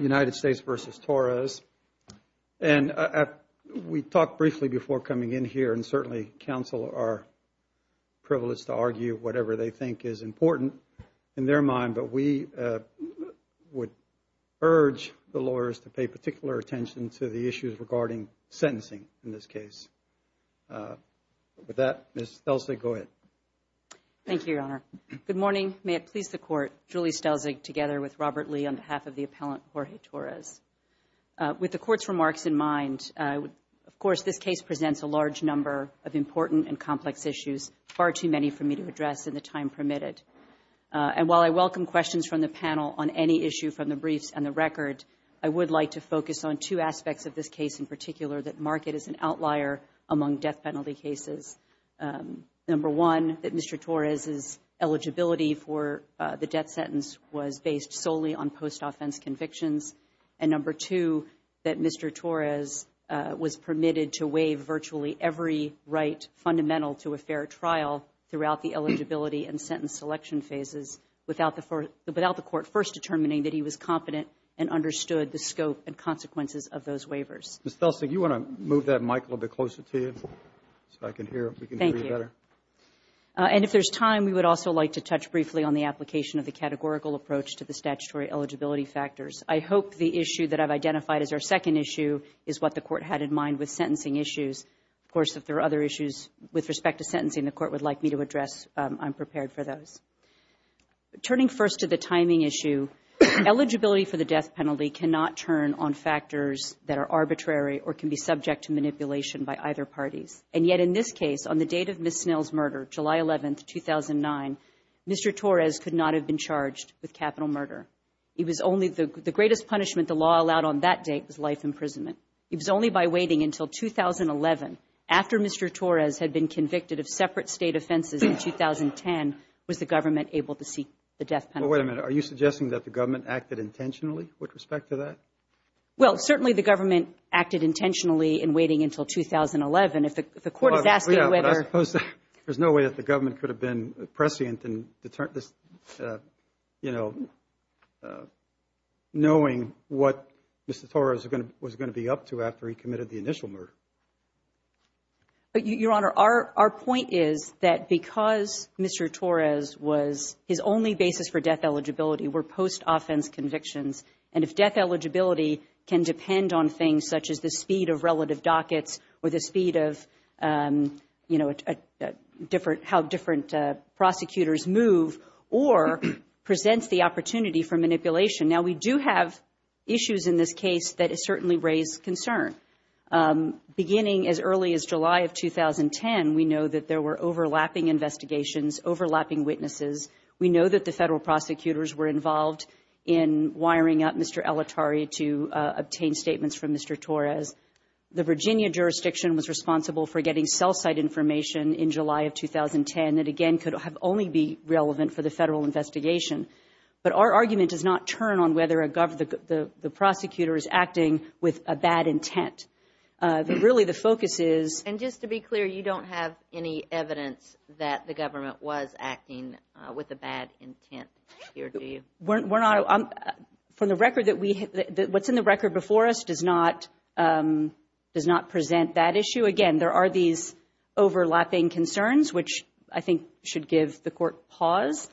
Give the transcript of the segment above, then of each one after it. United States v. Torrez. And we talked briefly before coming in here, and certainly counsel are privileged to argue whatever they think is important in their mind, but we would urge the lawyers to pay particular attention to the issues regarding sentencing in this case. With that, Ms. Stelzig, go ahead. Thank you, Your Honor. Good morning. May it please the Court, Julie Stelzig together with Robert Lee on behalf of the appellant, Jorge Torrez. With the Court's remarks in mind, of course, this case presents a large number of important and complex issues, far too many for me to address in the time permitted. And while I welcome questions from the panel on any issue from the briefs and the record, I would like to focus on two aspects of this case in particular that mark it as an outlier among death penalty cases. Number one, that Mr. Torrez's eligibility for the death sentence was based solely on post-offense convictions. And number two, that Mr. Torrez was permitted to waive virtually every right fundamental to a fair trial throughout the eligibility and sentence selection phases without the Court first determining that he was competent and understood the scope and consequences of those waivers. Ms. Stelzig, you want to move that mic a little bit closer to you so I can hear if we can hear you better? Thank you. And if there's time, we would also like to touch briefly on the application of the categorical approach to the statutory eligibility factors. I hope the issue that I've identified as our second issue is what the Court had in mind with sentencing issues. Of course, if there are other issues with respect to sentencing the Court would like me to address, I'm prepared for those. Turning first to the timing issue, eligibility for the death penalty cannot turn on factors that are arbitrary or can be subject to manipulation by either parties. And yet in this case, on the date of Ms. Snell's murder, July 11, 2009, Mr. Torrez could not have been charged with capital murder. The greatest punishment the law allowed on that date was life imprisonment. It was only by waiting until 2011, after Mr. Torrez had been convicted of separate State offenses in 2010, was the Government able to seek the death penalty. Wait a minute. Are you suggesting that the Government acted intentionally with respect to that? Well, certainly the Government acted intentionally in waiting until 2011. If the Court is asking whether... I suppose there's no way that the Government could have been prescient in knowing what Mr. Torrez was going to be up to after he committed the initial murder. Your Honor, our point is that because Mr. Torrez was... his only basis for death eligibility were post-offense convictions, and if death eligibility can depend on things such as the speed of relative dockets or the speed of, you know, how different prosecutors move, or presents the opportunity for manipulation. Now, we do have issues in this case that certainly raise concern. Beginning as early as July of 2010, we know that there were overlapping investigations, overlapping witnesses. We know that the Federal prosecutors were involved in wiring up Mr. Elatary to obtain statements from Mr. Torrez. The Virginia jurisdiction was responsible for getting cell site information in July of 2010 that, again, could only be relevant for the Federal investigation. But our argument does not turn on whether the prosecutor is acting with a bad intent. Really, the focus is... And just to be clear, you don't have any evidence that the Government was acting with a bad intent here, do you? We're not... from the record that we... what's in the record before us does not present that issue. Again, there are these overlapping concerns, which I think should give the Court pause.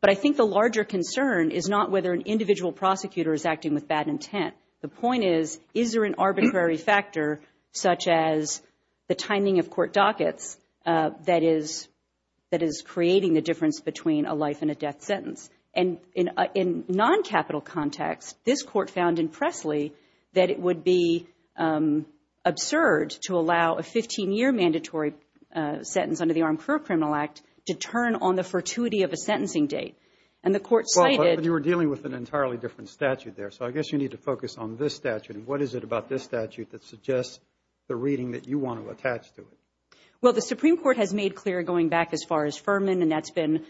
But I think the larger concern is not whether an individual prosecutor is acting with bad intent. The point is, is there an arbitrary factor, such as the timing of court dockets, that is creating the difference between a life and a death sentence? And in non-capital context, this Court found in Presley that it would be absurd to allow a 15-year mandatory sentence under the Armed Career Criminal Act to turn on the fortuity of a sentencing date. And the Court cited... Well, but you were dealing with an entirely different statute there, so I guess you need to focus on this statute. And what is it about this statute that suggests the reading that you want to attach to it? Well, the Supreme Court has made clear, going back as far as Furman, and that's been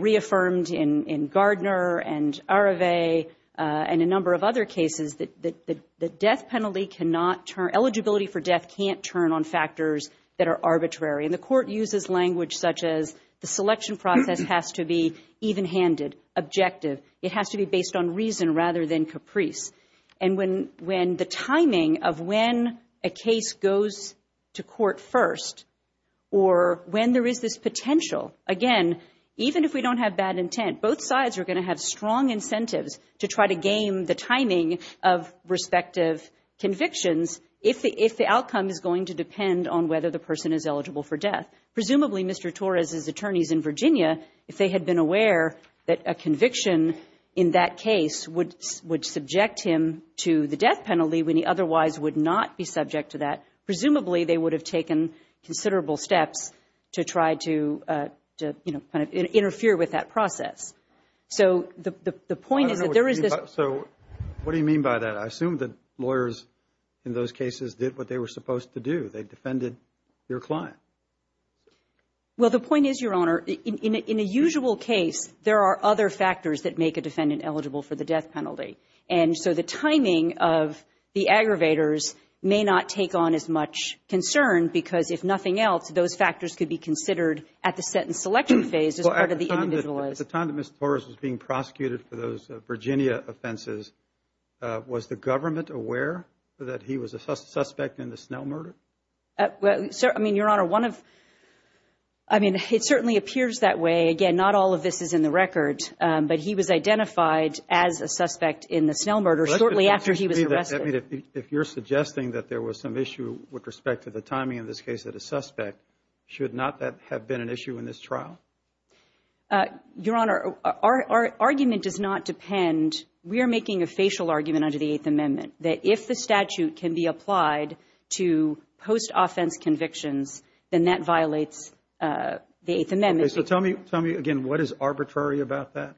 reaffirmed in Gardner and Arevey and a number of other cases, that the death penalty cannot turn... eligibility for death can't turn on factors that are arbitrary. And the Court uses language such as the selection process has to be even-handed, objective. It has to be based on reason rather than caprice. And when the timing of when a case goes to court first or when there is this potential, again, even if we don't have bad intent, both sides are going to have strong incentives to try to game the timing of respective convictions if the outcome is going to depend on whether the person is eligible for death. Presumably, Mr. Torres' attorneys in Virginia, if they had been aware that a conviction in that case would subject him to the death penalty when he otherwise would not be subject to that, presumably they would have taken considerable steps to try to, you know, kind of interfere with that process. So the point is that there is this... I don't know what you mean by that. So what do you mean by that? I assume that lawyers in those cases did what they were supposed to do. They defended your client. Well, the point is, Your Honor, in a usual case, there are other factors that make a defendant eligible for the death penalty. And so the timing of the aggravators may not take on as much concern because if nothing else, those factors could be considered at the sentence selection phase as part of the individualized... Was the government aware that he was a suspect in the Snell murder? I mean, Your Honor, one of... I mean, it certainly appears that way. Again, not all of this is in the record, but he was identified as a suspect in the Snell murder shortly after he was arrested. If you're suggesting that there was some issue with respect to the timing of this case that a suspect, should not that have been an issue in this trial? Your Honor, our argument does not depend. We are making a facial argument under the Eighth Amendment that if the statute can be applied to post-offense convictions, then that violates the Eighth Amendment. So tell me again, what is arbitrary about that?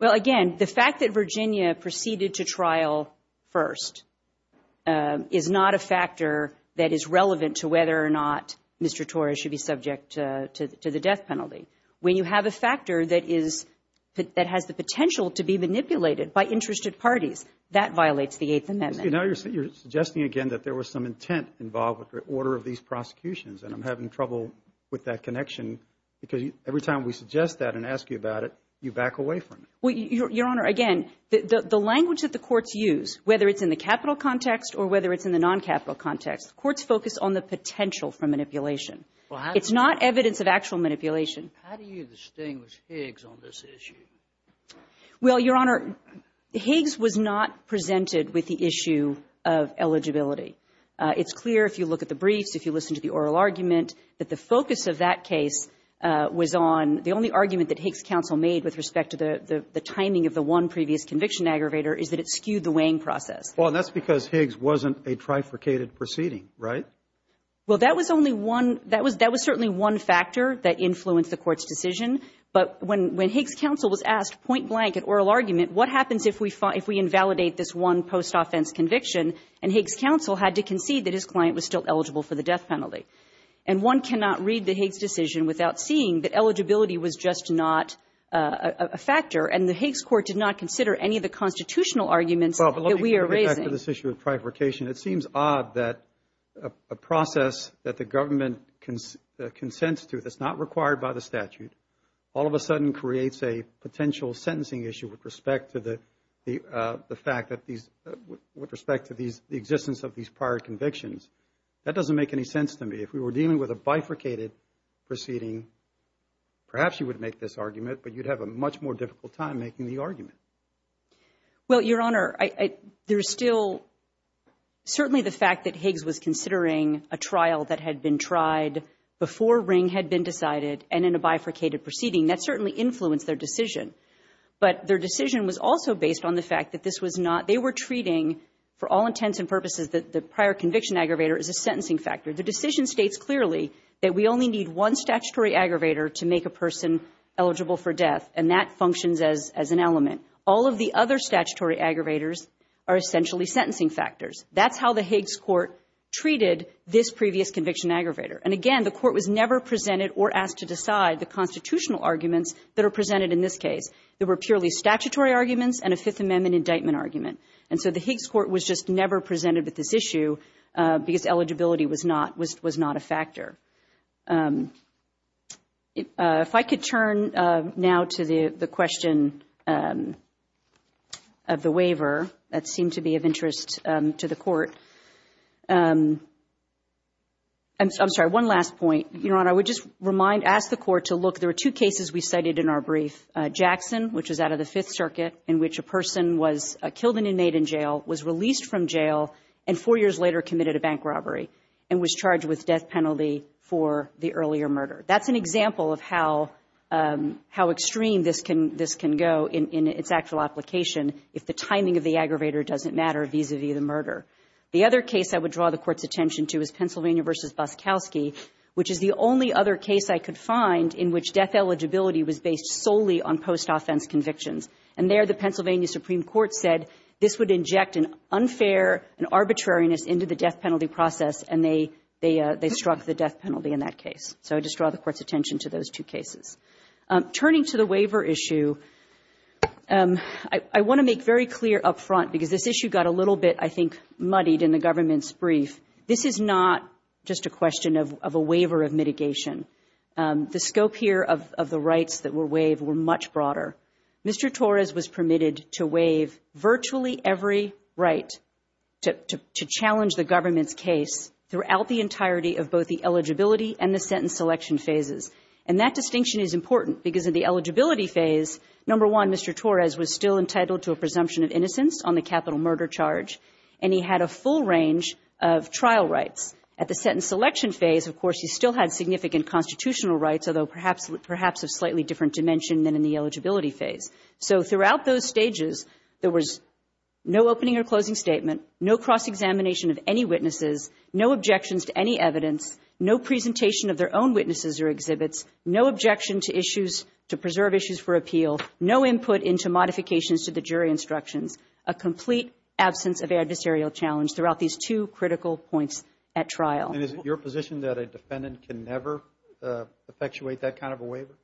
Well, again, the fact that Virginia proceeded to trial first is not a factor that is relevant to whether or not Mr. Torres should be subject to the death penalty. When you have a factor that has the potential to be manipulated by interested parties, that violates the Eighth Amendment. Now you're suggesting again that there was some intent involved with the order of these prosecutions, and I'm having trouble with that connection because every time we suggest that and ask you about it, you back away from it. Well, Your Honor, again, the language that the courts use, whether it's in the capital context or whether it's in the noncapital context, courts focus on the potential for manipulation. It's not evidence of actual manipulation. How do you distinguish Higgs on this issue? Well, Your Honor, Higgs was not presented with the issue of eligibility. It's clear if you look at the briefs, if you listen to the oral argument, that the focus of that case was on the only argument that Higgs counsel made with respect to the timing of the one previous conviction aggravator is that it skewed the weighing process. Well, and that's because Higgs wasn't a trifurcated proceeding, right? Well, that was only one — that was certainly one factor that influenced the Court's decision. But when Higgs counsel was asked point blank at oral argument, what happens if we invalidate this one post-offense conviction and Higgs counsel had to concede that his client was still eligible for the death penalty? And one cannot read the Higgs decision without seeing that eligibility was just not a factor. And the Higgs Court did not consider any of the constitutional arguments that we are raising. Well, but let me go back to this issue of trifurcation. It seems odd that a process that the government consents to that's not required by the statute, all of a sudden creates a potential sentencing issue with respect to the fact that these — with respect to the existence of these prior convictions. That doesn't make any sense to me. If we were dealing with a bifurcated proceeding, perhaps you would make this argument, but you'd have a much more difficult time making the argument. Well, Your Honor, there's still certainly the fact that Higgs was considering a trial that had been tried before Ring had been decided and in a bifurcated proceeding. That certainly influenced their decision. But their decision was also based on the fact that this was not — they were treating, for all intents and purposes, the prior conviction aggravator as a sentencing factor. The decision states clearly that we only need one statutory aggravator to make a person eligible for death, and that functions as an element. All of the other statutory aggravators are essentially sentencing factors. That's how the Higgs Court treated this previous conviction aggravator. And again, the Court was never presented or asked to decide the constitutional arguments that are presented in this case. There were purely statutory arguments and a Fifth Amendment indictment argument. And so the Higgs Court was just never presented with this issue because eligibility was not a factor. If I could turn now to the question of the waiver, that seemed to be of interest to the Court. I'm sorry, one last point. Your Honor, I would just remind — ask the Court to look. There were two cases we cited in our brief. One was Jackson, which was out of the Fifth Circuit, in which a person was killed an inmate in jail, was released from jail, and four years later committed a bank robbery and was charged with death penalty for the earlier murder. That's an example of how extreme this can go in its actual application if the timing of the aggravator doesn't matter vis-a-vis the murder. The other case I would draw the Court's attention to is Pennsylvania v. Boskowski, which is the only other case I could find in which death eligibility was based solely on post-offense convictions. And there the Pennsylvania Supreme Court said this would inject an unfair and arbitrariness into the death penalty process, and they struck the death penalty in that case. So I would just draw the Court's attention to those two cases. Turning to the waiver issue, I want to make very clear up front, because this issue got a little bit, I think, muddied in the government's brief. This is not just a question of a waiver of mitigation. The scope here of the rights that were waived were much broader. Mr. Torres was permitted to waive virtually every right to challenge the government's case throughout the entirety of both the eligibility and the sentence selection phases. And that distinction is important because in the eligibility phase, number one, Mr. Torres was still entitled to a presumption of innocence on the capital murder charge, and he had a full range of trial rights. At the sentence selection phase, of course, he still had significant constitutional rights, although perhaps of slightly different dimension than in the eligibility phase. So throughout those stages, there was no opening or closing statement, no cross-examination of any witnesses, no objections to any evidence, no presentation of their own witnesses or exhibits, no objection to issues, to preserve issues for appeal, no input into modifications to the jury instructions, a complete absence of adversarial challenge throughout these two critical points at trial. And is it your position that a defendant can never effectuate that kind of a waiver?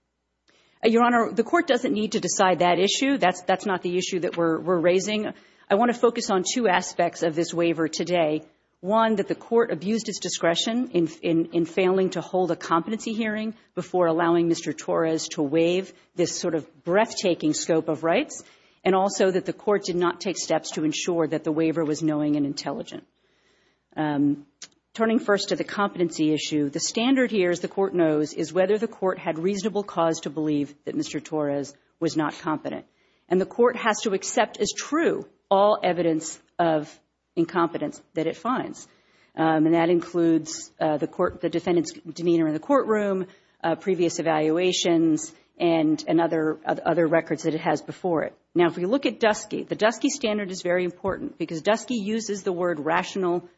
Your Honor, the Court doesn't need to decide that issue. That's not the issue that we're raising. I want to focus on two aspects of this waiver today. One, that the Court abused its discretion in failing to hold a competency hearing before allowing Mr. Torres to waive this sort of breathtaking scope of rights, and also that the Court did not take steps to ensure that the waiver was knowing and intelligent. Turning first to the competency issue, the standard here, as the Court knows, is whether the Court had reasonable cause to believe that Mr. Torres was not competent. And the Court has to accept as true all evidence of incompetence that it finds, and that includes the defendant's demeanor in the courtroom, previous evaluations, and other records that it has before it. Now, if we look at Dusky, the Dusky standard is very important because Dusky uses the word rational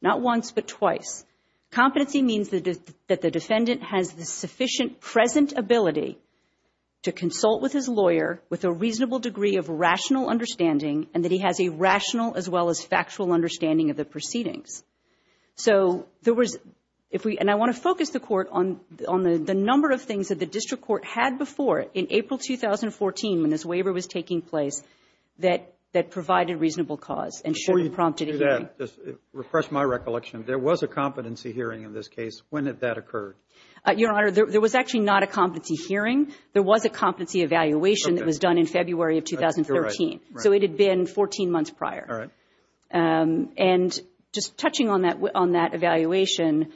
not once but twice. Competency means that the defendant has the sufficient present ability to consult with his lawyer with a reasonable degree of rational understanding, and that he has a rational as well as factual understanding of the proceedings. So there was, if we, and I want to focus the Court on the number of things that the district court had before in April 2014 when this waiver was taking place that provided reasonable cause and should have prompted a hearing. Before you do that, just refresh my recollection. There was a competency hearing in this case. When did that occur? Your Honor, there was actually not a competency hearing. There was a competency evaluation that was done in February of 2013. So it had been 14 months prior. All right. And just touching on that evaluation,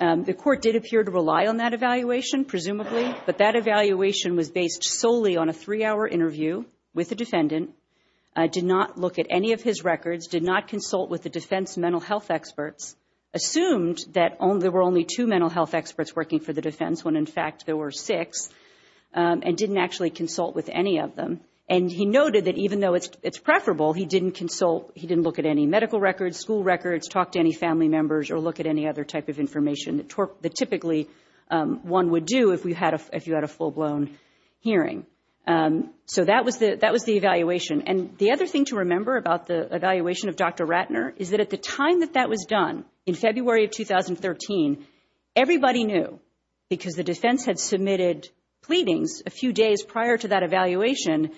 the Court did appear to rely on that evaluation, presumably, but that evaluation was based solely on a three-hour interview with the defendant, did not look at any of his records, did not consult with the defense mental health experts, assumed that there were only two mental health experts working for the defense when, in fact, there were six, and didn't actually consult with any of them. And he noted that even though it's preferable, he didn't consult, he didn't look at any medical records, school records, talk to any family members, or look at any other type of information that typically one would do if you had a full-blown hearing. So that was the evaluation. And the other thing to remember about the evaluation of Dr. Ratner is that at the time that that was done, in February of 2013, everybody knew because the defense had submitted pleadings a few days prior to that evaluation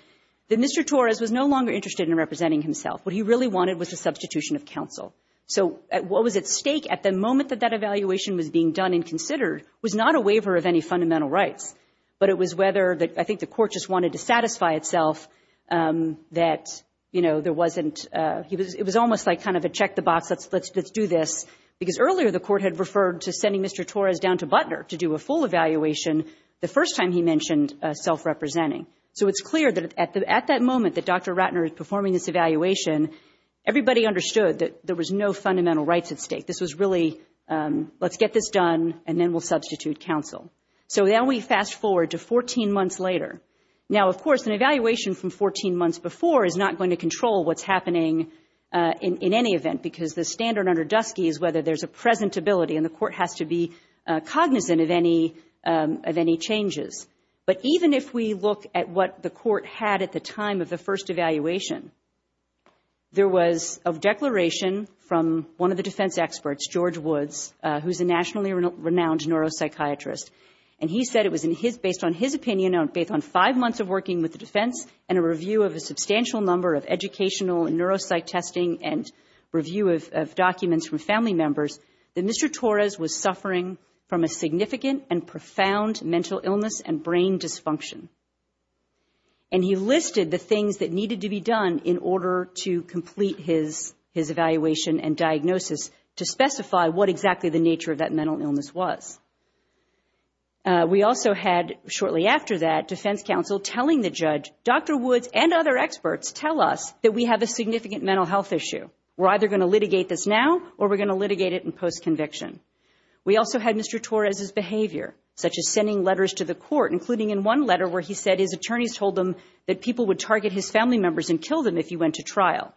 that Mr. Torres was no longer interested in representing himself. What he really wanted was a substitution of counsel. So what was at stake at the moment that that evaluation was being done and considered was not a waiver of any fundamental rights, but it was whether I think the Court just wanted to satisfy itself that, you know, there wasn't – it was almost like kind of a check the box, let's do this, because earlier the Court had referred to sending Mr. Torres down to Butner to do a full evaluation the first time he mentioned self-representing. So it's clear that at that moment that Dr. Ratner is performing this evaluation, everybody understood that there was no fundamental rights at stake. This was really, let's get this done, and then we'll substitute counsel. So then we fast forward to 14 months later. Now, of course, an evaluation from 14 months before is not going to control what's happening in any event, because the standard under Dusky is whether there's a presentability, and the Court has to be cognizant of any changes. But even if we look at what the Court had at the time of the first evaluation, there was a declaration from one of the defense experts, George Woods, who's a nationally renowned neuropsychiatrist, and he said it was based on his opinion based on five months of working with the defense and a review of a substantial number of educational neuropsych testing and review of documents from family members, that Mr. Torres was suffering from a significant and profound mental illness and brain dysfunction. And he listed the things that needed to be done in order to complete his evaluation and diagnosis to specify what exactly the nature of that mental illness was. We also had, shortly after that, defense counsel telling the judge, Dr. Woods and other experts tell us that we have a significant mental health issue. We're either going to litigate this now or we're going to litigate it in post-conviction. We also had Mr. Torres' behavior, such as sending letters to the Court, including in one letter where he said his attorneys told him that people would target his family members and kill them if he went to trial.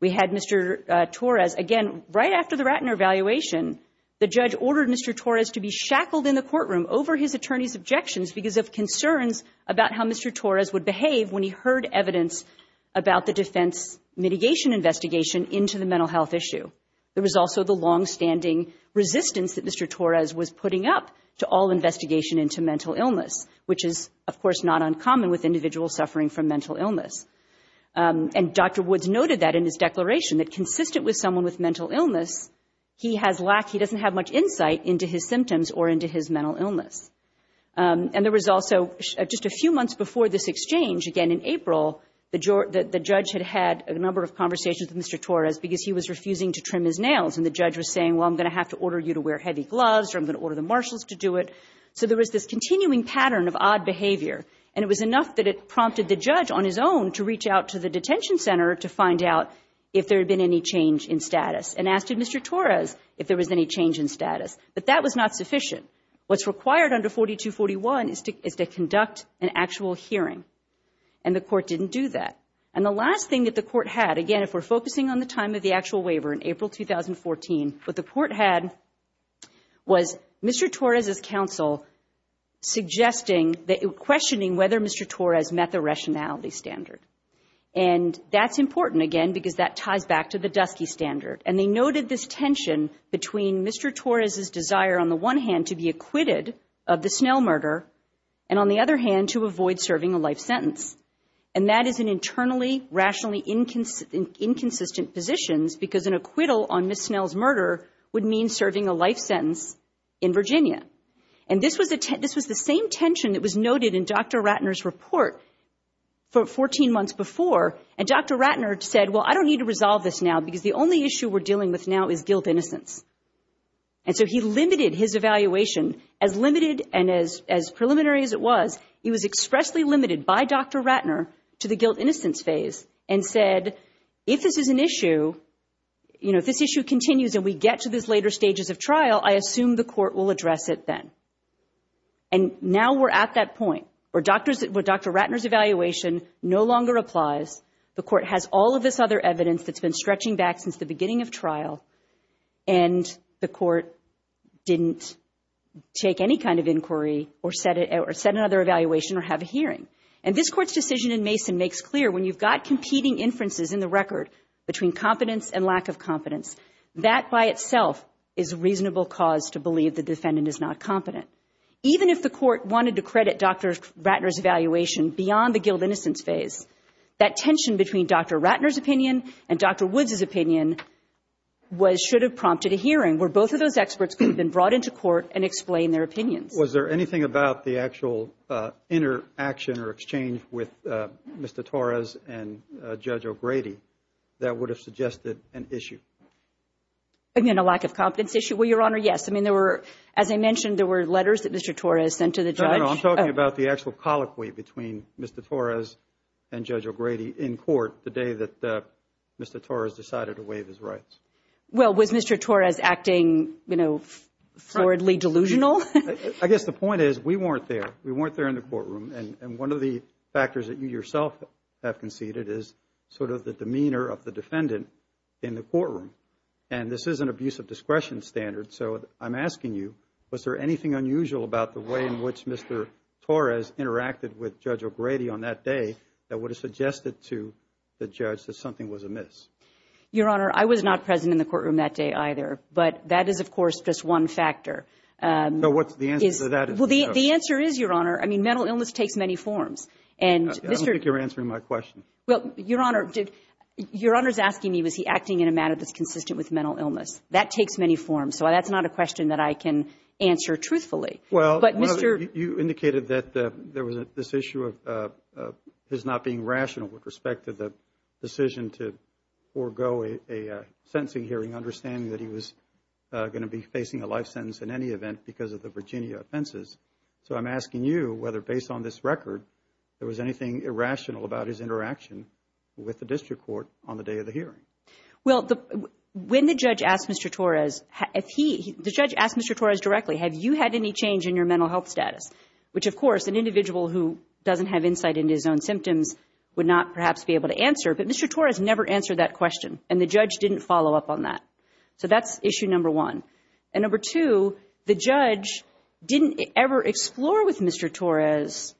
We had Mr. Torres, again, right after the Ratner evaluation, the judge ordered Mr. Torres to be shackled in the courtroom over his attorney's objections because of concerns about how Mr. Torres would behave when he heard evidence about the defense mitigation investigation into the mental health issue. There was also the longstanding resistance that Mr. Torres was putting up to all investigation into mental illness, which is, of course, not uncommon with individuals suffering from mental illness. And Dr. Woods noted that in his declaration, that consistent with someone with mental illness, he doesn't have much insight into his symptoms or into his mental illness. And there was also just a few months before this exchange, again in April, the judge had had a number of conversations with Mr. Torres because he was refusing to trim his nails. And the judge was saying, well, I'm going to have to order you to wear heavy gloves or I'm going to order the marshals to do it. So there was this continuing pattern of odd behavior. And it was enough that it prompted the judge on his own to reach out to the detention center to find out if there had been any change in status and asked Mr. Torres if there was any change in status. But that was not sufficient. What's required under 4241 is to conduct an actual hearing. And the court didn't do that. And the last thing that the court had, again, if we're focusing on the time of the actual waiver in April 2014, what the court had was Mr. Torres' counsel questioning whether Mr. Torres met the rationality standard. And that's important, again, because that ties back to the Dusky Standard. And they noted this tension between Mr. Torres' desire on the one hand to be acquitted of the Snell murder and on the other hand to avoid serving a life sentence. And that is in internally, rationally inconsistent positions because an acquittal on Ms. Snell's murder would mean serving a life sentence in Virginia. And this was the same tension that was noted in Dr. Ratner's report 14 months before. And Dr. Ratner said, well, I don't need to resolve this now because the only issue we're dealing with now is guilt-innocence. And so he limited his evaluation, as limited and as preliminary as it was, he was expressly limited by Dr. Ratner to the guilt-innocence phase and said, if this is an issue, you know, if this issue continues and we get to these later stages of trial, I assume the court will address it then. And now we're at that point where Dr. Ratner's evaluation no longer applies, the court has all of this other evidence that's been stretching back since the beginning of trial, and the court didn't take any kind of inquiry or set another evaluation or have a hearing. And this Court's decision in Mason makes clear when you've got competing inferences in the record between competence and lack of competence, that by itself is a reasonable cause to believe the defendant is not competent. Even if the court wanted to credit Dr. Ratner's evaluation beyond the guilt-innocence phase, that tension between Dr. Ratner's opinion and Dr. Woods' opinion should have prompted a hearing where both of those experts could have been brought into court and explained their opinions. Was there anything about the actual interaction or exchange with Mr. Torres and Judge O'Grady that would have suggested an issue? I mean, a lack of competence issue? Well, Your Honor, yes. I mean, there were, as I mentioned, there were letters that Mr. Torres sent to the judge. No, no, no. I'm talking about the actual colloquy between Mr. Torres and Judge O'Grady in court the day that Mr. Torres decided to waive his rights. Well, was Mr. Torres acting, you know, flawedly delusional? I guess the point is we weren't there. We weren't there in the courtroom. And one of the factors that you yourself have conceded is sort of the demeanor of the defendant in the courtroom. And this is an abuse of discretion standard, so I'm asking you, was there anything unusual about the way in which Mr. Torres interacted with Judge O'Grady on that day that would have suggested to the judge that something was amiss? Your Honor, I was not present in the courtroom that day either, but that is, of course, just one factor. So what's the answer to that? Well, the answer is, Your Honor, I mean, mental illness takes many forms. I don't think you're answering my question. Well, Your Honor, your Honor's asking me was he acting in a manner that's consistent with mental illness. That takes many forms, so that's not a question that I can answer truthfully. Well, you indicated that there was this issue of his not being rational with respect to the decision to forego a sentencing hearing, understanding that he was going to be facing a life sentence in any event because of the sentence, so I'm asking you whether, based on this record, there was anything irrational about his interaction with the district court on the day of the hearing. Well, when the judge asked Mr. Torres, if he, the judge asked Mr. Torres directly, have you had any change in your mental health status, which, of course, an individual who doesn't have insight into his own symptoms would not perhaps be able to answer, but Mr. Torres never answered that question, and the judge didn't follow up on that. So that's issue number one. And number two, the judge didn't ever explore with Mr. Torres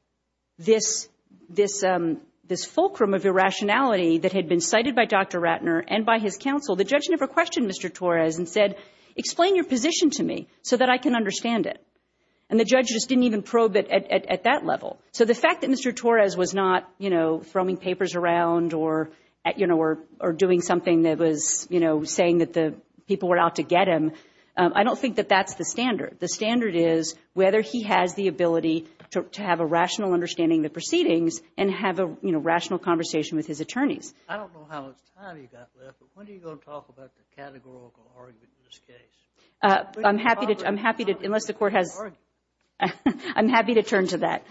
this fulcrum of irrationality that had been cited by Dr. Ratner and by his counsel. The judge never questioned Mr. Torres and said, explain your position to me so that I can understand it, and the judge just didn't even probe it at that level. So the fact that Mr. Torres was not, you know, throwing papers around or, you know, or doing something that was, you know, saying that the people were out to get him, I don't think that that's the standard. The standard is whether he has the ability to have a rational understanding of the proceedings and have a, you know, rational conversation with his attorneys. I don't know how much time you've got left, but when are you going to talk about the categorical argument in this case? I'm happy to turn to that.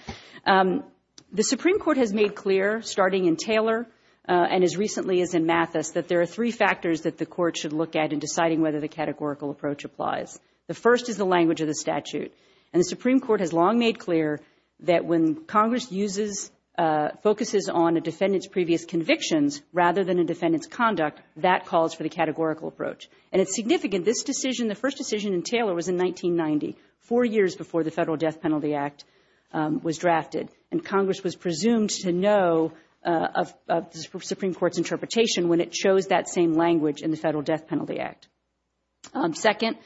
The Supreme Court has made clear, starting in Taylor and as recently as in Mathis, that there are three factors that the court should look at in deciding whether the categorical approach applies. The first is the language of the statute. And the Supreme Court has long made clear that when Congress uses, focuses on a defendant's previous convictions rather than a defendant's conduct, that calls for the categorical approach. And it's significant, this decision, the first decision in Taylor was in 1990, four years before the Federal Death Penalty Act was drafted. And Congress was presumed to know of the Supreme Court's interpretation when it chose that same language in the Federal Death Penalty Act. Second,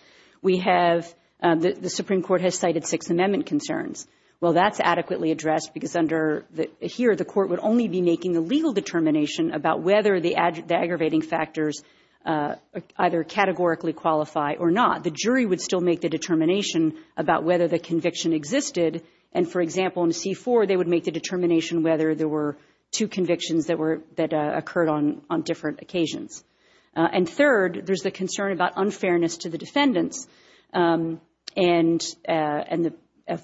we have, the Supreme Court has cited Sixth Amendment concerns. Well, that's adequately addressed because under, here the court would only be making a legal determination about whether the aggravating factors either categorically qualify or not. The jury would still make the determination about whether the conviction existed. And, for example, in C-4, they would make the determination whether there were two convictions that were, that occurred on, on different occasions. And third, there's the concern about unfairness to the defendants and, and the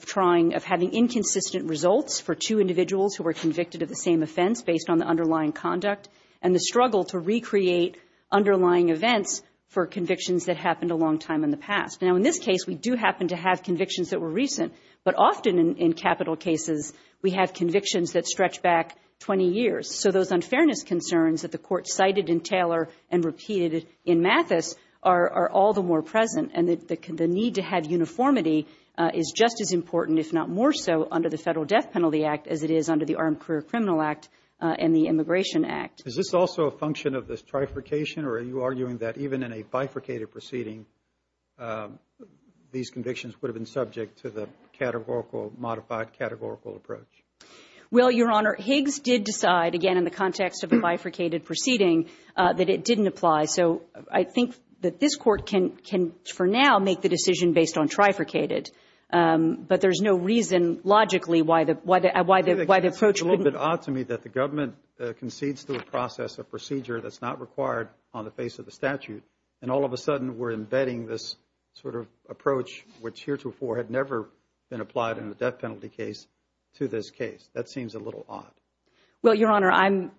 trying of having inconsistent results for two individuals who were convicted of the same offense based on the underlying conduct and the struggle to recreate underlying events for convictions that happened a long time in the past. Now, in this case, we do happen to have convictions that were recent. But often in, in capital cases, we have convictions that stretch back 20 years. So those unfairness concerns that the Court cited in Taylor and repeated in Mathis are, are all the more present. And the, the need to have uniformity is just as important, if not more so, under the Federal Death Penalty Act as it is under the Armed Career Criminal Act and the Immigration Act. Is this also a function of this trifurcation, or are you arguing that even in a bifurcated proceeding, these convictions would have been subject to the categorical, modified categorical approach? Well, Your Honor, Higgs did decide, again, in the context of a bifurcated proceeding, that it didn't apply. So I think that this Court can, can for now make the decision based on trifurcated. But there's no reason logically why the, why the, why the, why the approach wouldn't It's a bit odd to me that the government concedes to a process, a procedure that's not required on the face of the statute, and all of a sudden we're embedding this sort of approach, which heretofore had never been applied in a death penalty case, to this case. That seems a little odd. Well, Your Honor, I'm,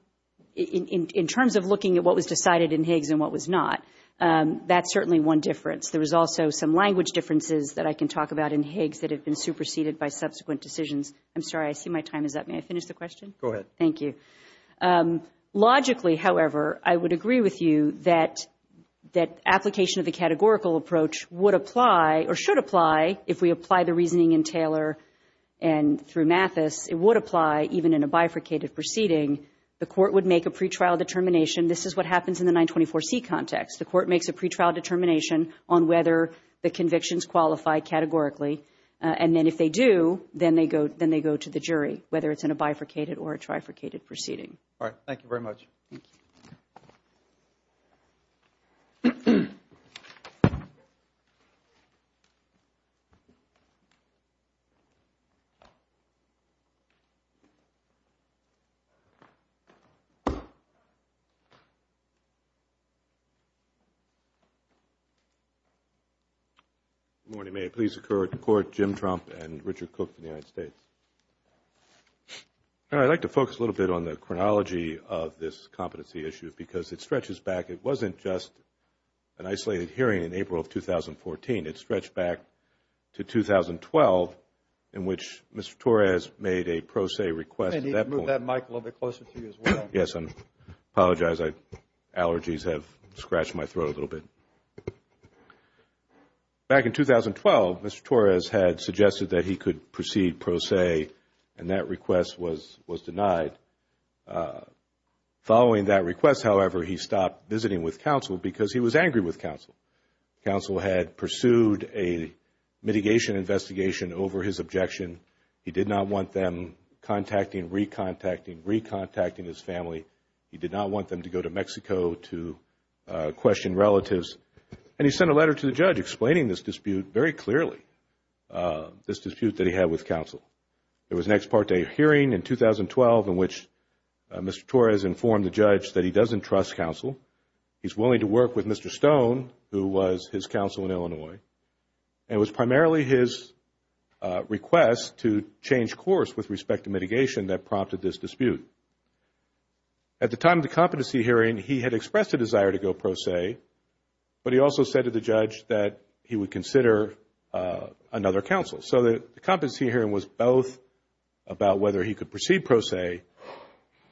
in, in, in terms of looking at what was decided in Higgs and what was not, that's certainly one difference. There is also some language differences that I can talk about in Higgs that have been superseded by subsequent decisions. I'm sorry, I see my time is up. May I finish the question? Go ahead. Thank you. Logically, however, I would agree with you that, that application of the categorical approach would apply, or should apply, if we apply the reasoning in Taylor and through Mathis, it would apply even in a bifurcated proceeding. The Court would make a pretrial determination. This is what happens in the 924C context. The Court makes a pretrial determination on whether the convictions qualify categorically, and then if they do, then they go, they go to the jury, whether it's in a bifurcated or a trifurcated proceeding. All right. Thank you very much. Thank you. Good morning. May it please the Court, Jim Trump and Richard Cook of the United States. I would like to focus a little bit on the chronology of this competency issue because it stretches back. It wasn't just an isolated hearing in April of 2014. It stretched back to 2012 in which Mr. Torres made a pro se request. I need to move that mic a little bit closer to you as well. Yes, I apologize. Allergies have scratched my throat a little bit. Back in 2012, Mr. Torres had suggested that he could proceed pro se, and that request was denied. Following that request, however, he stopped visiting with counsel because he was angry with counsel. Counsel had pursued a mitigation investigation over his objection. He did not want them contacting, recontacting, recontacting his family. He did not want them to go to Mexico to question relatives. And he sent a letter to the judge explaining this dispute very clearly, this dispute that he had with counsel. There was an ex parte hearing in 2012 in which Mr. Torres informed the judge that he doesn't trust counsel. He's willing to work with Mr. Stone, who was his counsel in Illinois. And it was primarily his request to change course with respect to mitigation that prompted this dispute. At the time of the competency hearing, he had expressed a desire to go pro se, but he also said to the judge that he would consider another counsel. So the competency hearing was both about whether he could proceed pro se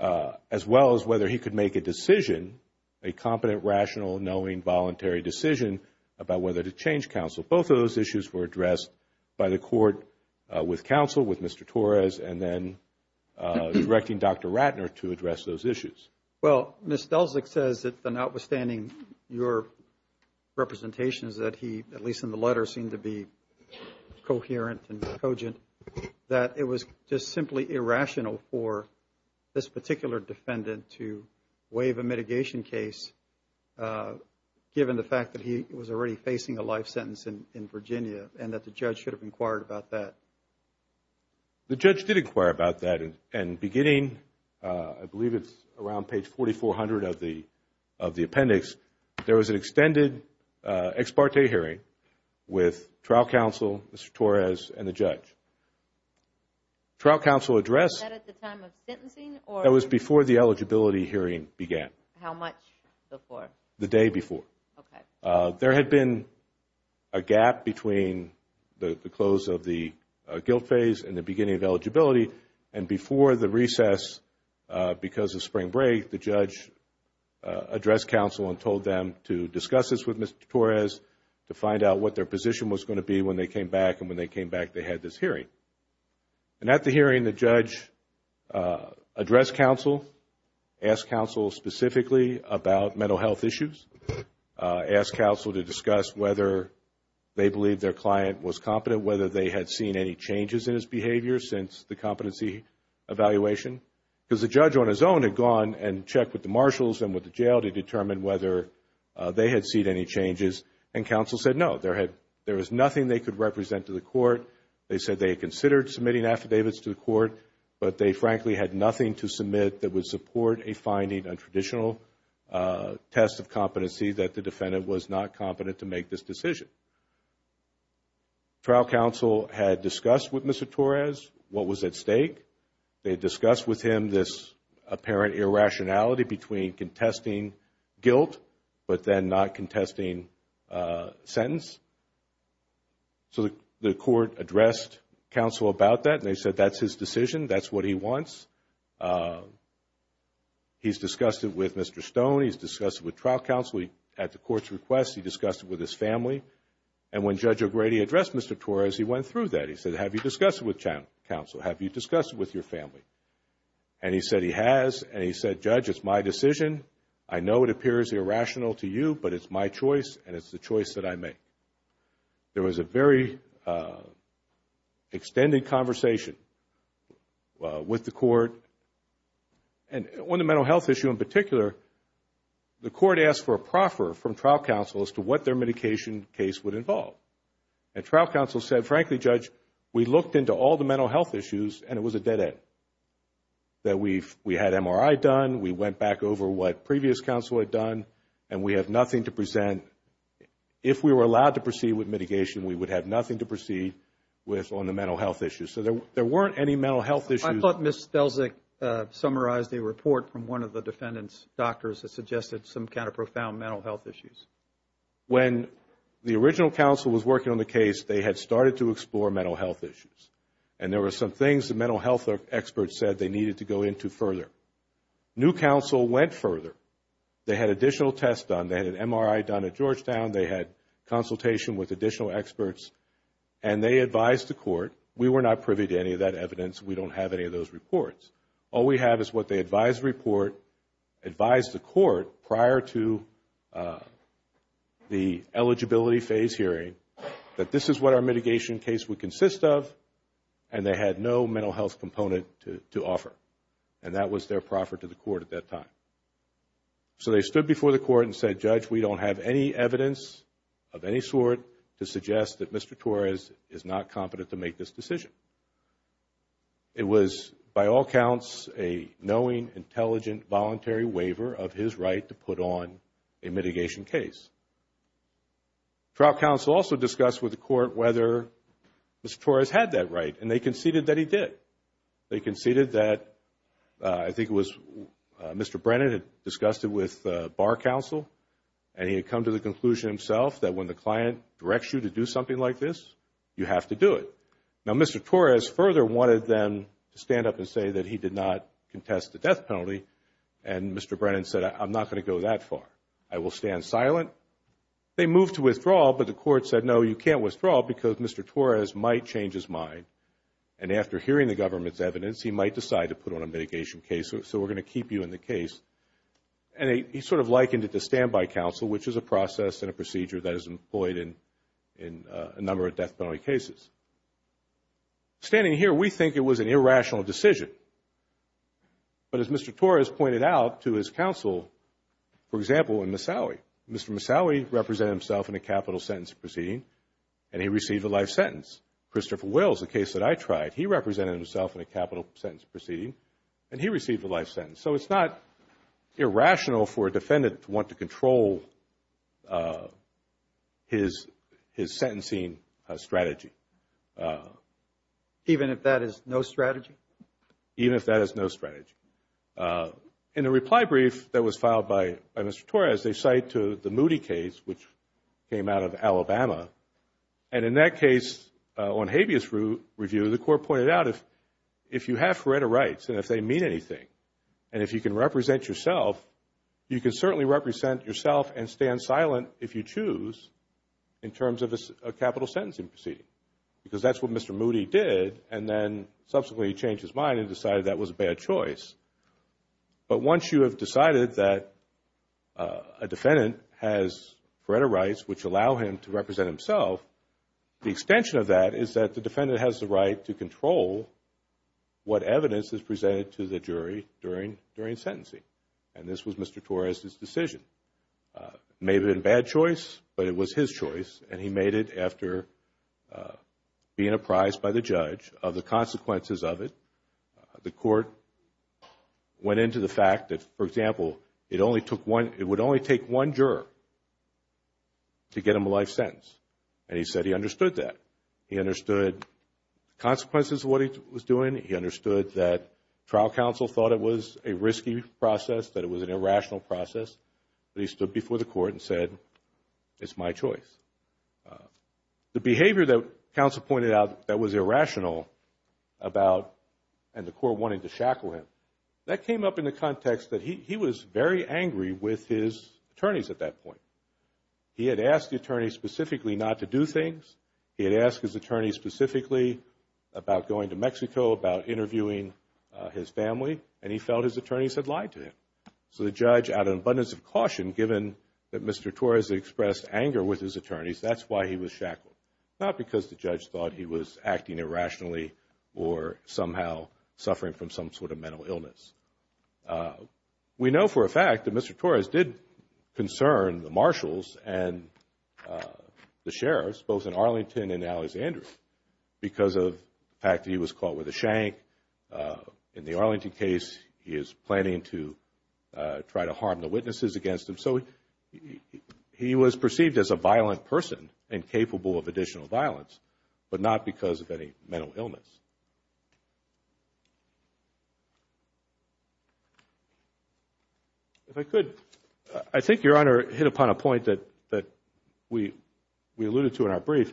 as well as whether he could make a decision, a competent, rational, knowing, voluntary decision about whether to change counsel. Both of those issues were addressed by the court with counsel, with Mr. Torres, and then directing Dr. Ratner to address those issues. Well, Ms. Delzick says that notwithstanding your representations that he, at least in the letter, seemed to be coherent and cogent, that it was just simply irrational for this particular defendant to waive a mitigation case given the fact that he was already facing a life sentence in Virginia and that the judge should have inquired about that. The judge did inquire about that. And beginning, I believe it's around page 4400 of the appendix, there was an extended ex parte hearing with trial counsel, Mr. Torres, and the judge. Trial counsel addressed... Was that at the time of sentencing or... That was before the eligibility hearing began. How much before? The day before. Okay. There had been a gap between the close of the guilt phase and the beginning of eligibility. And before the recess, because of spring break, the judge addressed counsel and told them to discuss this with Mr. Torres, to find out what their position was going to be when they came back. And when they came back, they had this hearing. And at the hearing, the judge addressed counsel, asked counsel specifically about mental health issues, asked counsel to discuss whether they believed their client was competent, whether they had seen any changes in his behavior since the competency evaluation. Because the judge on his own had gone and checked with the marshals and with the jail to determine whether they had seen any changes, and counsel said no. There was nothing they could represent to the court. They said they had considered submitting affidavits to the court, but they frankly had nothing to submit that would support a finding on traditional tests of competency that the defendant was not competent to make this decision. Trial counsel had discussed with Mr. Torres what was at stake. They discussed with him this apparent irrationality between contesting guilt but then not contesting sentence. So the court addressed counsel about that, and they said that's his decision, that's what he wants. He's discussed it with Mr. Stone. He's discussed it with trial counsel. At the court's request, he discussed it with his family. And when Judge O'Grady addressed Mr. Torres, he went through that. He said, have you discussed it with counsel? Have you discussed it with your family? And he said he has, and he said, Judge, it's my decision. I know it appears irrational to you, but it's my choice, and it's the choice that I make. There was a very extended conversation with the court. And on the mental health issue in particular, the court asked for a proffer from trial counsel as to what their medication case would involve. And trial counsel said, frankly, Judge, we looked into all the mental health issues and it was a dead end, that we had MRI done, we went back over what previous counsel had done, and we have nothing to present. If we were allowed to proceed with mitigation, we would have nothing to proceed with on the mental health issue. So there weren't any mental health issues. I thought Ms. Stelzik summarized a report from one of the defendant's doctors that suggested some kind of profound mental health issues. When the original counsel was working on the case, they had started to explore mental health issues. And there were some things the mental health experts said they needed to go into further. New counsel went further. They had additional tests done. They had an MRI done at Georgetown. They had consultation with additional experts. And they advised the court, we were not privy to any of that evidence, we don't have any of those reports. All we have is what they advised the court prior to the eligibility phase hearing, that this is what our mitigation case would consist of, and they had no mental health component to offer. And that was their proffer to the court at that time. So they stood before the court and said, Judge, we don't have any evidence of any sort to suggest that Mr. Torres is not competent to make this decision. It was, by all counts, a knowing, intelligent, voluntary waiver of his right to put on a mitigation case. Trial counsel also discussed with the court whether Mr. Torres had that right, and they conceded that he did. They conceded that, I think it was Mr. Brennan had discussed it with bar counsel, and he had come to the conclusion himself that when the client directs you to do something like this, you have to do it. Now, Mr. Torres further wanted them to stand up and say that he did not contest the death penalty, and Mr. Brennan said, I'm not going to go that far. I will stand silent. They moved to withdrawal, but the court said, no, you can't withdraw, because Mr. Torres might change his mind. And after hearing the government's evidence, he might decide to put on a mitigation case, so we're going to keep you in the case. And he sort of likened it to standby counsel, which is a process and a procedure that is employed in a number of death penalty cases. Standing here, we think it was an irrational decision. But as Mr. Torres pointed out to his counsel, for example, in Misawi, Mr. Misawi represented himself in a capital sentence proceeding, and he received a life sentence. Christopher Wells, the case that I tried, he represented himself in a capital sentence proceeding, and he received a life sentence. So it's not irrational for a defendant to want to control his sentencing strategy. Even if that is no strategy? Even if that is no strategy. In a reply brief that was filed by Mr. Torres, they cite the Moody case, which came out of Alabama, and in that case, on habeas review, the court pointed out if you have forerunner rights, and if they mean anything, and if you can represent yourself, you can certainly represent yourself and stand silent if you choose in terms of a capital sentencing proceeding. Because that's what Mr. Moody did, and then subsequently he changed his mind and decided that was a bad choice. But once you have decided that a defendant has forerunner rights, which allow him to represent himself, the extension of that is that the defendant has the right to control what evidence is presented to the jury during sentencing. And this was Mr. Torres' decision. It may have been a bad choice, but it was his choice, and he made it after being apprised by the judge of the consequences of it. The court went into the fact that, for example, it would only take one juror to get him a life sentence, and he said he understood that. He understood the consequences of what he was doing. He understood that trial counsel thought it was a risky process, that it was an irrational process. But he stood before the court and said, it's my choice. The behavior that counsel pointed out that was irrational about, and the court wanted to shackle him, that came up in the context that he was very angry with his attorneys at that point. He had asked the attorney specifically not to do things. He had asked his attorney specifically about going to Mexico, about interviewing his family, and he felt his attorneys had lied to him. So the judge, out of an abundance of caution, given that Mr. Torres expressed anger with his attorneys, that's why he was shackled, not because the judge thought he was acting irrationally or somehow suffering from some sort of mental illness. We know for a fact that Mr. Torres did concern the marshals and the sheriffs, both in Arlington and Alexandria, because of the fact that he was caught with a shank. In the Arlington case, he is planning to try to harm the witnesses against him. So he was perceived as a violent person and capable of additional violence, but not because of any mental illness. If I could, I think Your Honor hit upon a point that we alluded to in our brief,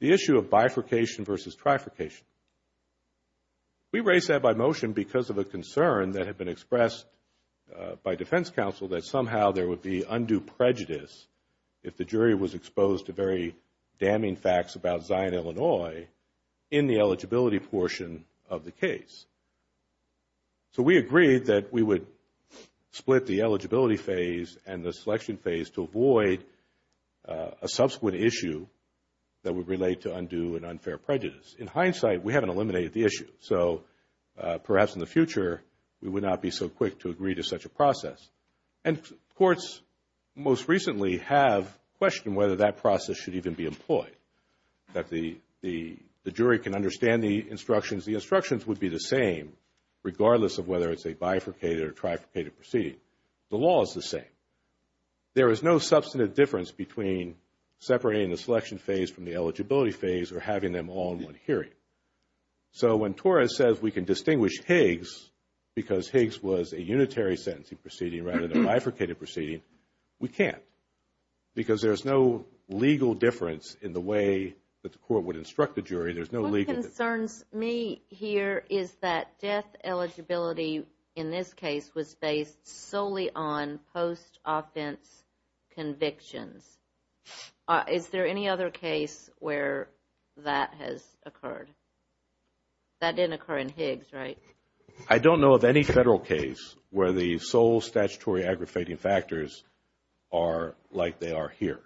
the issue of bifurcation versus trifurcation. We raise that by motion because of a concern that had been expressed by defense counsel that somehow there would be undue prejudice if the jury was exposed to very damning facts about Zion, Illinois, in the eligibility portion of the case. So we agreed that we would split the eligibility phase and the selection phase to avoid a subsequent issue that would relate to undue and unfair prejudice. In hindsight, we haven't eliminated the issue. So perhaps in the future, we would not be so quick to agree to such a process. And courts most recently have questioned whether that process should even be employed, that the jury can understand the instructions. The instructions would be the same regardless of whether it's a bifurcated or trifurcated proceeding. The law is the same. There is no substantive difference between separating the selection phase from the eligibility phase or having them all in one hearing. So when Torres says we can distinguish Higgs because Higgs was a unitary sentencing proceeding rather than a bifurcated proceeding, we can't. Because there's no legal difference in the way that the court would instruct the jury. What concerns me here is that death eligibility in this case was based solely on post-offense convictions. Is there any other case where that has occurred? That didn't occur in Higgs, right? I don't know of any federal case where the sole statutory aggravating factors are like they are here.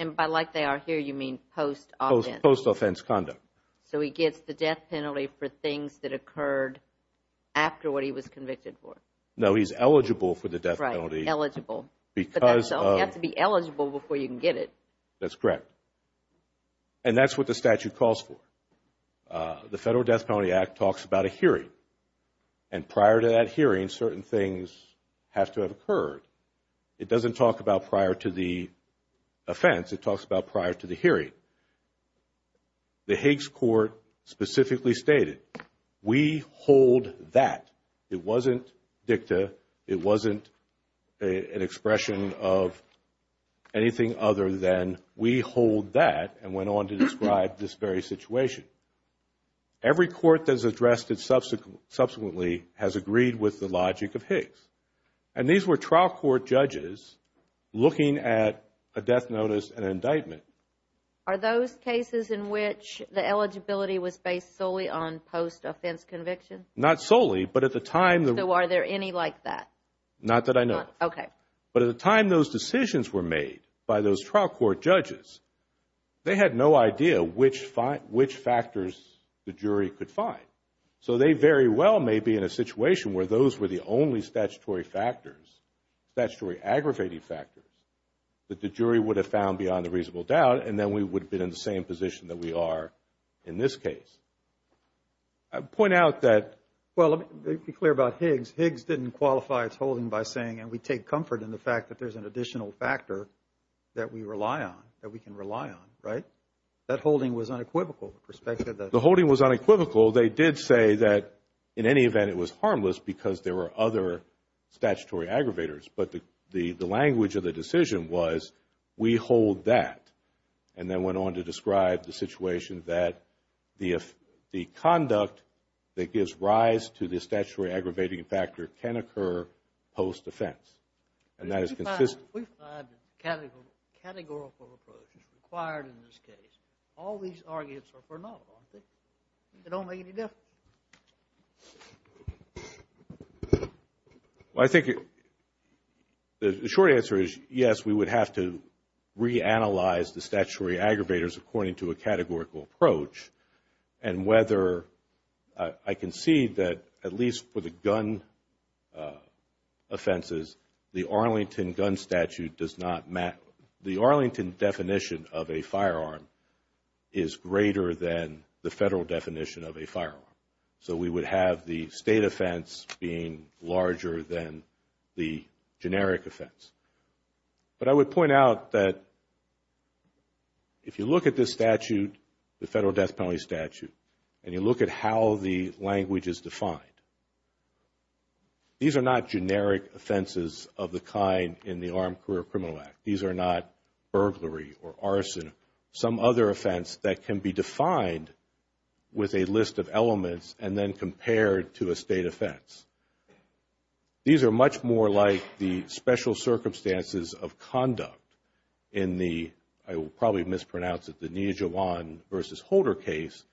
And by like they are here, you mean post-offense? Post-offense conduct. So he gets the death penalty for things that occurred after what he was convicted for? No, he's eligible for the death penalty. Right, eligible. Because of? You have to be eligible before you can get it. That's correct. And that's what the statute calls for. The Federal Death Penalty Act talks about a hearing. And prior to that hearing, certain things have to have occurred. It doesn't talk about prior to the offense. It talks about prior to the hearing. The Higgs Court specifically stated, we hold that. It wasn't dicta. It wasn't an expression of anything other than we hold that and went on to describe this very situation. Every court that has addressed it subsequently has agreed with the logic of Higgs. And these were trial court judges looking at a death notice and an indictment. Are those cases in which the eligibility was based solely on post-offense conviction? Not solely, but at the time. So are there any like that? Not that I know of. Okay. But at the time those decisions were made by those trial court judges, they had no idea which factors the jury could find. So they very well may be in a situation where those were the only statutory factors, statutory aggravating factors that the jury would have found beyond a reasonable doubt, and then we would have been in the same position that we are in this case. I'd point out that. Well, let me be clear about Higgs. Higgs didn't qualify its holding by saying, and we take comfort in the fact that there's an additional factor that we rely on, that we can rely on, right? That holding was unequivocal. The holding was unequivocal. They did say that in any event it was harmless because there were other statutory aggravators, but the language of the decision was we hold that, and then went on to describe the situation that the conduct that gives rise to the statutory aggravating factor can occur post-offense, and that is consistent. We've had categorical approaches required in this case. All these arguments are phenomenal, aren't they? They don't make any difference. Well, I think the short answer is yes, we would have to reanalyze the statutory aggravators according to a categorical approach, and whether I can see that at least for the gun offenses, the Arlington gun statute does not matter. The Arlington definition of a firearm is greater than the federal definition of a firearm. So we would have the state offense being larger than the generic offense. But I would point out that if you look at this statute, the federal death penalty statute, and you look at how the language is defined, these are not generic offenses of the kind in the Armed Career Criminal Act. These are not burglary or arson, some other offense that can be defined with a list of elements and then compared to a state offense. These are much more like the special circumstances of conduct in the, I will probably mispronounce it, the Nia Jawan versus Holder case,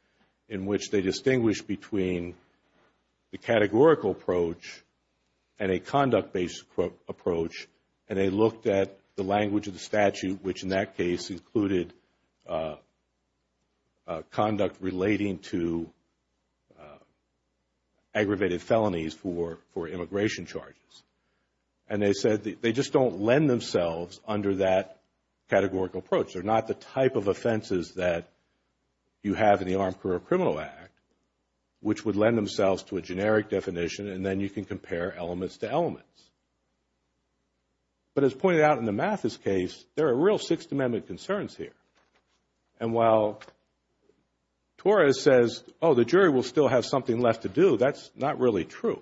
in which they distinguish between the categorical approach and a conduct-based approach, and they looked at the language of the statute, which in that case included conduct relating to aggravated felonies for immigration charges. And they said they just don't lend themselves under that categorical approach. They're not the type of offenses that you have in the Armed Career Criminal Act, which would lend themselves to a generic definition, and then you can compare elements to elements. But as pointed out in the Mathis case, there are real Sixth Amendment concerns here. And while Torres says, oh, the jury will still have something left to do, that's not really true.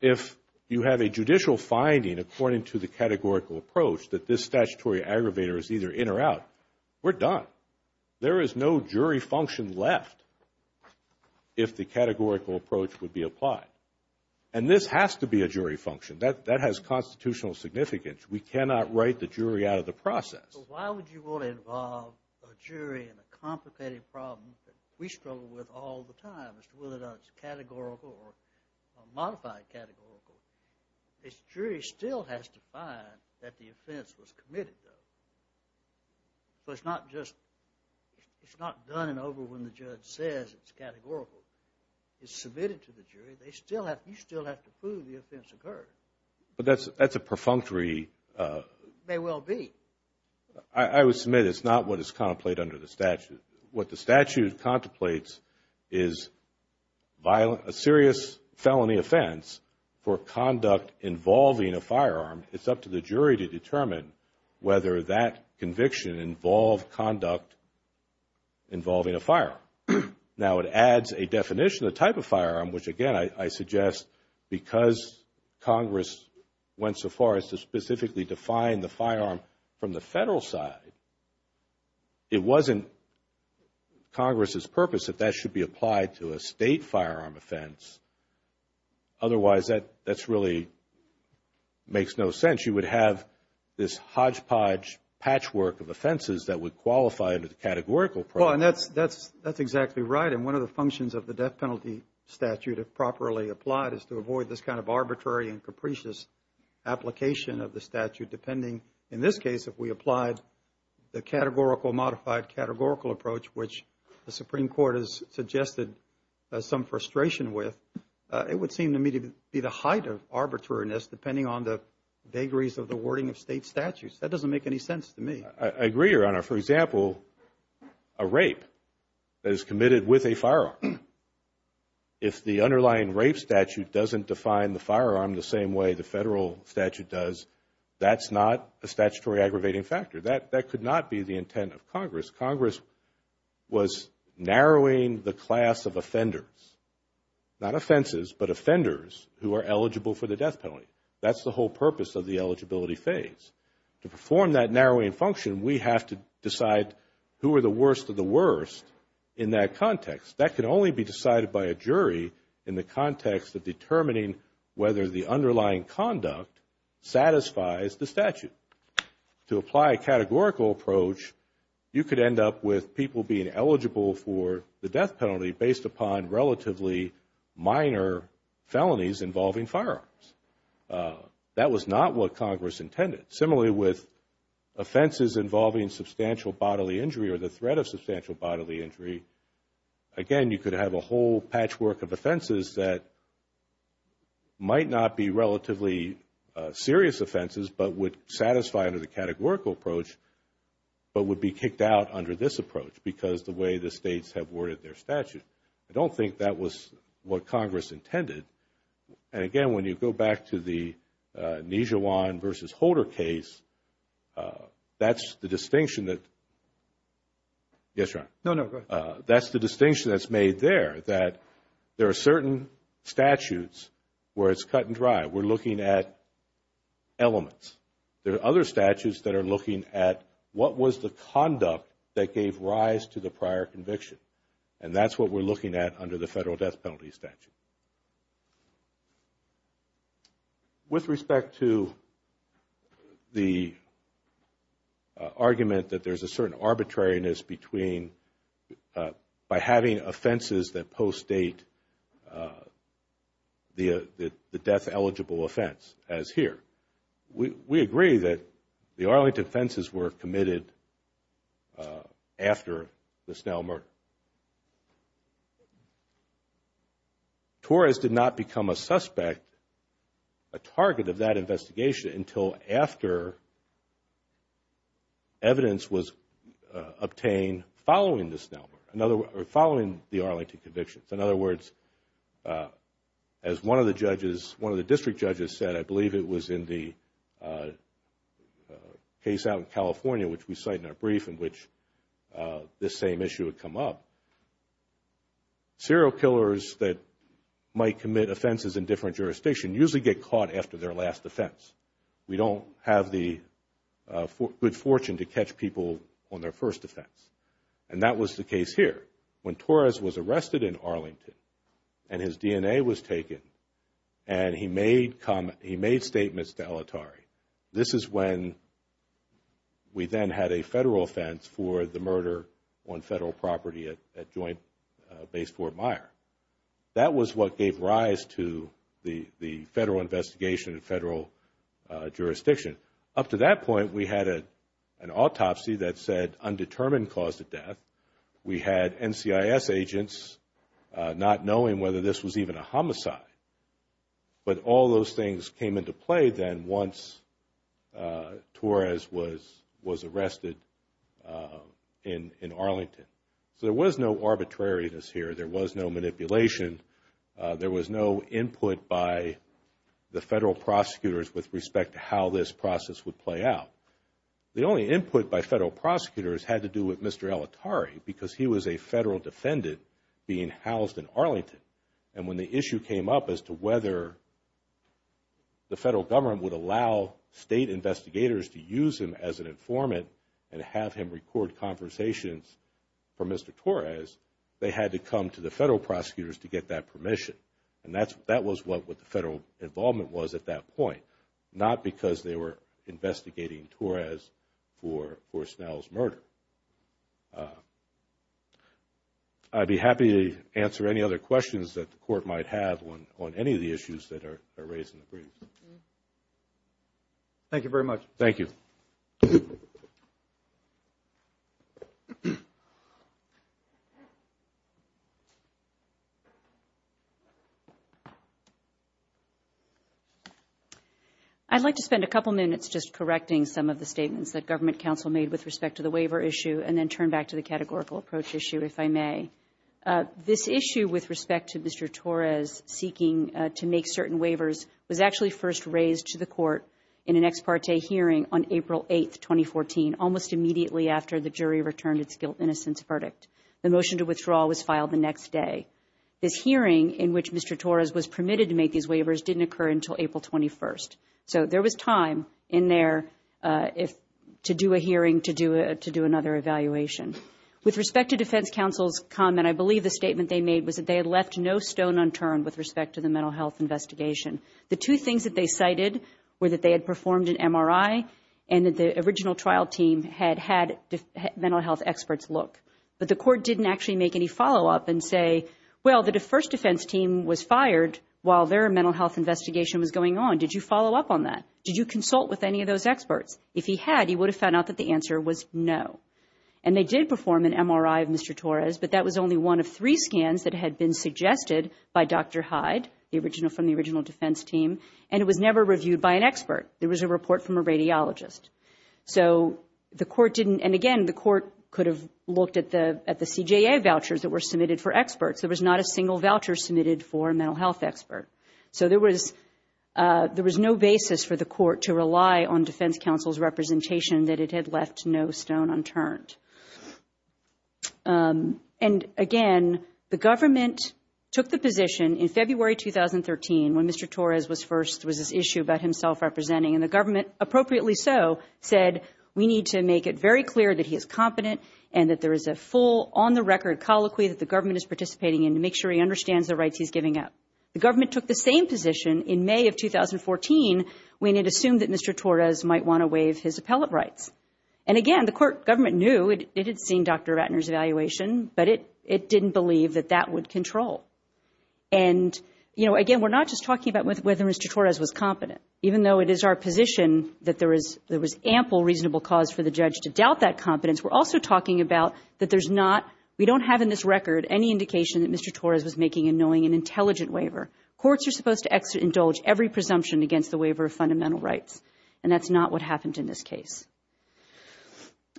If you have a judicial finding according to the categorical approach, that this statutory aggravator is either in or out, we're done. There is no jury function left if the categorical approach would be applied. And this has to be a jury function. That has constitutional significance. We cannot write the jury out of the process. So why would you want to involve a jury in a complicated problem that we struggle with all the time, as to whether or not it's categorical or modified categorical? A jury still has to find that the offense was committed, though. It's not done and over when the judge says it's categorical. It's submitted to the jury. You still have to prove the offense occurred. But that's a perfunctory. May well be. I would submit it's not what is contemplated under the statute. What the statute contemplates is a serious felony offense for conduct involving a firearm. It's up to the jury to determine whether that conviction involved conduct involving a firearm. Now, it adds a definition, a type of firearm, which, again, I suggest, because Congress went so far as to specifically define the firearm from the federal side, it wasn't Congress's purpose that that should be applied to a state firearm offense. Otherwise, that really makes no sense. You would have this hodgepodge patchwork of offenses that would qualify under the categorical process. Well, and that's exactly right. And one of the functions of the death penalty statute, if properly applied, is to avoid this kind of arbitrary and capricious application of the statute, depending, in this case, if we applied the categorical, modified categorical approach, which the Supreme Court has suggested some frustration with, it would seem to me to be the height of arbitrariness, depending on the vagaries of the wording of state statutes. That doesn't make any sense to me. I agree, Your Honor. For example, a rape that is committed with a firearm, if the underlying rape statute doesn't define the firearm the same way the federal statute does, that's not a statutory aggravating factor. That could not be the intent of Congress. Congress was narrowing the class of offenders, not offenses, but offenders who are eligible for the death penalty. That's the whole purpose of the eligibility phase. To perform that narrowing function, we have to decide who are the worst of the worst in that context. That can only be decided by a jury in the context of determining whether the underlying conduct satisfies the statute. To apply a categorical approach, you could end up with people being eligible for the death penalty based upon relatively minor felonies involving firearms. That was not what Congress intended. Similarly, with offenses involving substantial bodily injury or the threat of substantial bodily injury, again, you could have a whole patchwork of offenses that might not be relatively serious offenses but would satisfy under the categorical approach but would be kicked out under this approach because of the way the States have worded their statute. I don't think that was what Congress intended. Again, when you go back to the Nijawan v. Holder case, that's the distinction that's made there that there are certain statutes where it's cut and dry. We're looking at elements. There are other statutes that are looking at what was the conduct that gave rise to the prior conviction, and that's what we're looking at under the federal death penalty statute. With respect to the argument that there's a certain arbitrariness between by having offenses that post-date the death-eligible offense, as here, we agree that the Arlington offenses were committed after the Snell murder. Torres did not become a suspect, a target of that investigation, until after evidence was obtained following the Snell murder or following the Arlington convictions. In other words, as one of the district judges said, I believe it was in the case out in California, which we cite in our brief in which this same issue had come up, serial killers that might commit offenses in different jurisdictions usually get caught after their last offense. We don't have the good fortune to catch people on their first offense. And that was the case here. When Torres was arrested in Arlington and his DNA was taken and he made statements to El Attari, this is when we then had a federal offense for the murder on federal property at Joint Base Fort Myer. That was what gave rise to the federal investigation and federal jurisdiction. Up to that point, we had an autopsy that said undetermined cause of death. We had NCIS agents not knowing whether this was even a homicide. But all those things came into play then once Torres was arrested in Arlington. So there was no arbitrariness here. There was no manipulation. There was no input by the federal prosecutors with respect to how this process would play out. The only input by federal prosecutors had to do with Mr. El Attari because he was a federal defendant being housed in Arlington. And when the issue came up as to whether the federal government would allow state investigators to use him as an informant and have him record conversations for Mr. Torres, they had to come to the federal prosecutors to get that permission. And that was what the federal involvement was at that point, not because they were investigating Torres for Snell's murder. I'd be happy to answer any other questions that the Court might have on any of the issues that are raised in the brief. Thank you very much. Thank you. I'd like to spend a couple minutes just correcting some of the statements that Government Counsel made with respect to the waiver issue and then turn back to the categorical approach issue, if I may. This issue with respect to Mr. Torres seeking to make certain waivers was actually first raised to the Court in an ex parte hearing on April 8, 2014, almost immediately after the jury returned its guilt-innocence verdict. The motion to withdraw was filed the next day. This hearing in which Mr. Torres was permitted to make these waivers didn't occur until April 21. So there was time in there to do a hearing, to do another evaluation. With respect to Defense Counsel's comment, I believe the statement they made was that they had left no stone unturned with respect to the mental health investigation. The two things that they cited were that they had performed an MRI and that the original trial team had had mental health experts look. But the court didn't actually make any follow-up and say, well, the first defense team was fired while their mental health investigation was going on. Did you follow up on that? Did you consult with any of those experts? If he had, he would have found out that the answer was no. And they did perform an MRI of Mr. Torres, but that was only one of three scans that had been suggested by Dr. Hyde, from the original defense team, and it was never reviewed by an expert. There was a report from a radiologist. So the court didn't, and again, the court could have looked at the CJA vouchers that were submitted for experts. There was not a single voucher submitted for a mental health expert. So there was no basis for the court to rely on Defense Counsel's representation that it had left no stone unturned. And again, the government took the position in February 2013, when Mr. Torres was first, was this issue about himself representing, and the government, appropriately so, said we need to make it very clear that he is competent and that there is a full, on-the-record colloquy that the government is participating in to make sure he understands the rights he's giving up. The government took the same position in May of 2014 when it assumed that Mr. Torres might want to waive his appellate rights. And again, the court, government knew, it had seen Dr. Ratner's evaluation, but it didn't believe that that would control. And, you know, again, we're not just talking about whether Mr. Torres was competent. Even though it is our position that there was ample reasonable cause for the judge to doubt that competence, we're also talking about that there's not, we don't have in this record any indication that Mr. Torres was making a knowing and intelligent waiver. Courts are supposed to indulge every presumption against the waiver of fundamental rights, and that's not what happened in this case.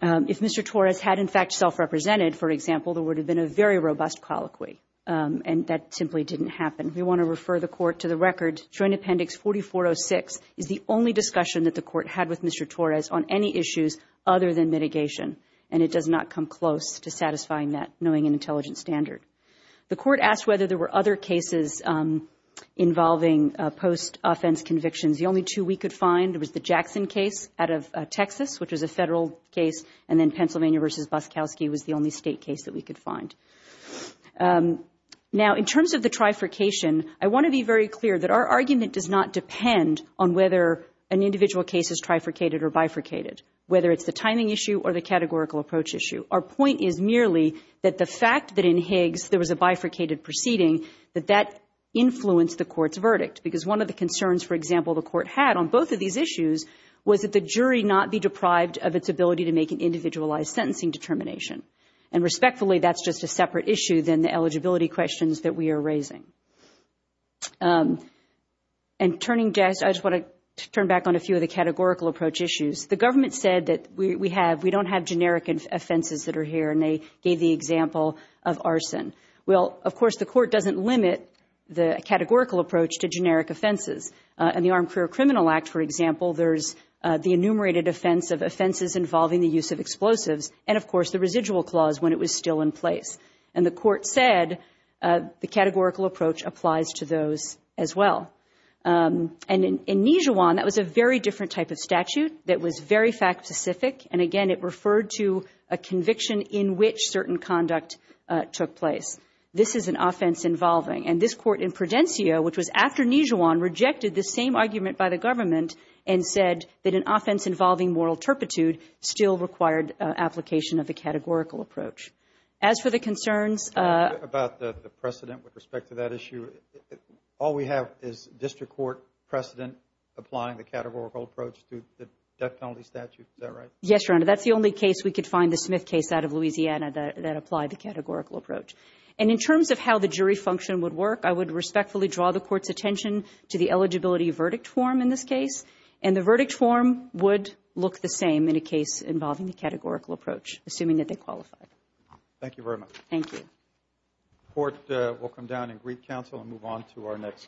If Mr. Torres had, in fact, self-represented, for example, there would have been a very robust colloquy, and that simply didn't happen. We want to refer the court to the record. Joint Appendix 4406 is the only discussion that the court had with Mr. Torres on any issues other than mitigation, and it does not come close to satisfying that knowing and intelligent standard. The court asked whether there were other cases involving post-offense convictions. The only two we could find was the Jackson case out of Texas, which was a federal case, and then Pennsylvania v. Boskowski was the only state case that we could find. Now, in terms of the trifurcation, I want to be very clear that our argument does not depend on whether an individual case is trifurcated or bifurcated, whether it's the timing issue or the categorical approach issue. Our point is merely that the fact that in Higgs there was a bifurcated proceeding, that that influenced the court's verdict, because one of the concerns, for example, the court had on both of these issues was that the jury not be deprived of its ability to make an individualized sentencing determination. And respectfully, that's just a separate issue than the eligibility questions that we are raising. And turning just, I just want to turn back on a few of the categorical approach issues. The government said that we have, we don't have generic offenses that are here, and they gave the example of arson. Well, of course, the court doesn't limit the categorical approach to generic offenses. In the Armed Career Criminal Act, for example, there's the enumerated offense of offenses involving the use of explosives, and, of course, the residual clause when it was still in place. And the court said the categorical approach applies to those as well. And in Nijuan, that was a very different type of statute that was very fact-specific, and, again, it referred to a conviction in which certain conduct took place. This is an offense involving. And this court in Prudencio, which was after Nijuan, rejected the same argument by the government and said that an offense involving moral turpitude still required application of the categorical approach. As for the concerns. About the precedent with respect to that issue, all we have is district court precedent applying the categorical approach to the death penalty statute. Is that right? Yes, Your Honor. That's the only case we could find, the Smith case out of Louisiana, that applied the categorical approach. And in terms of how the jury function would work, I would respectfully draw the court's attention to the eligibility verdict form in this case. And the verdict form would look the same in a case involving the categorical approach, assuming that they qualified. Thank you very much. Thank you. The court will come down and greet counsel and move on to our next case.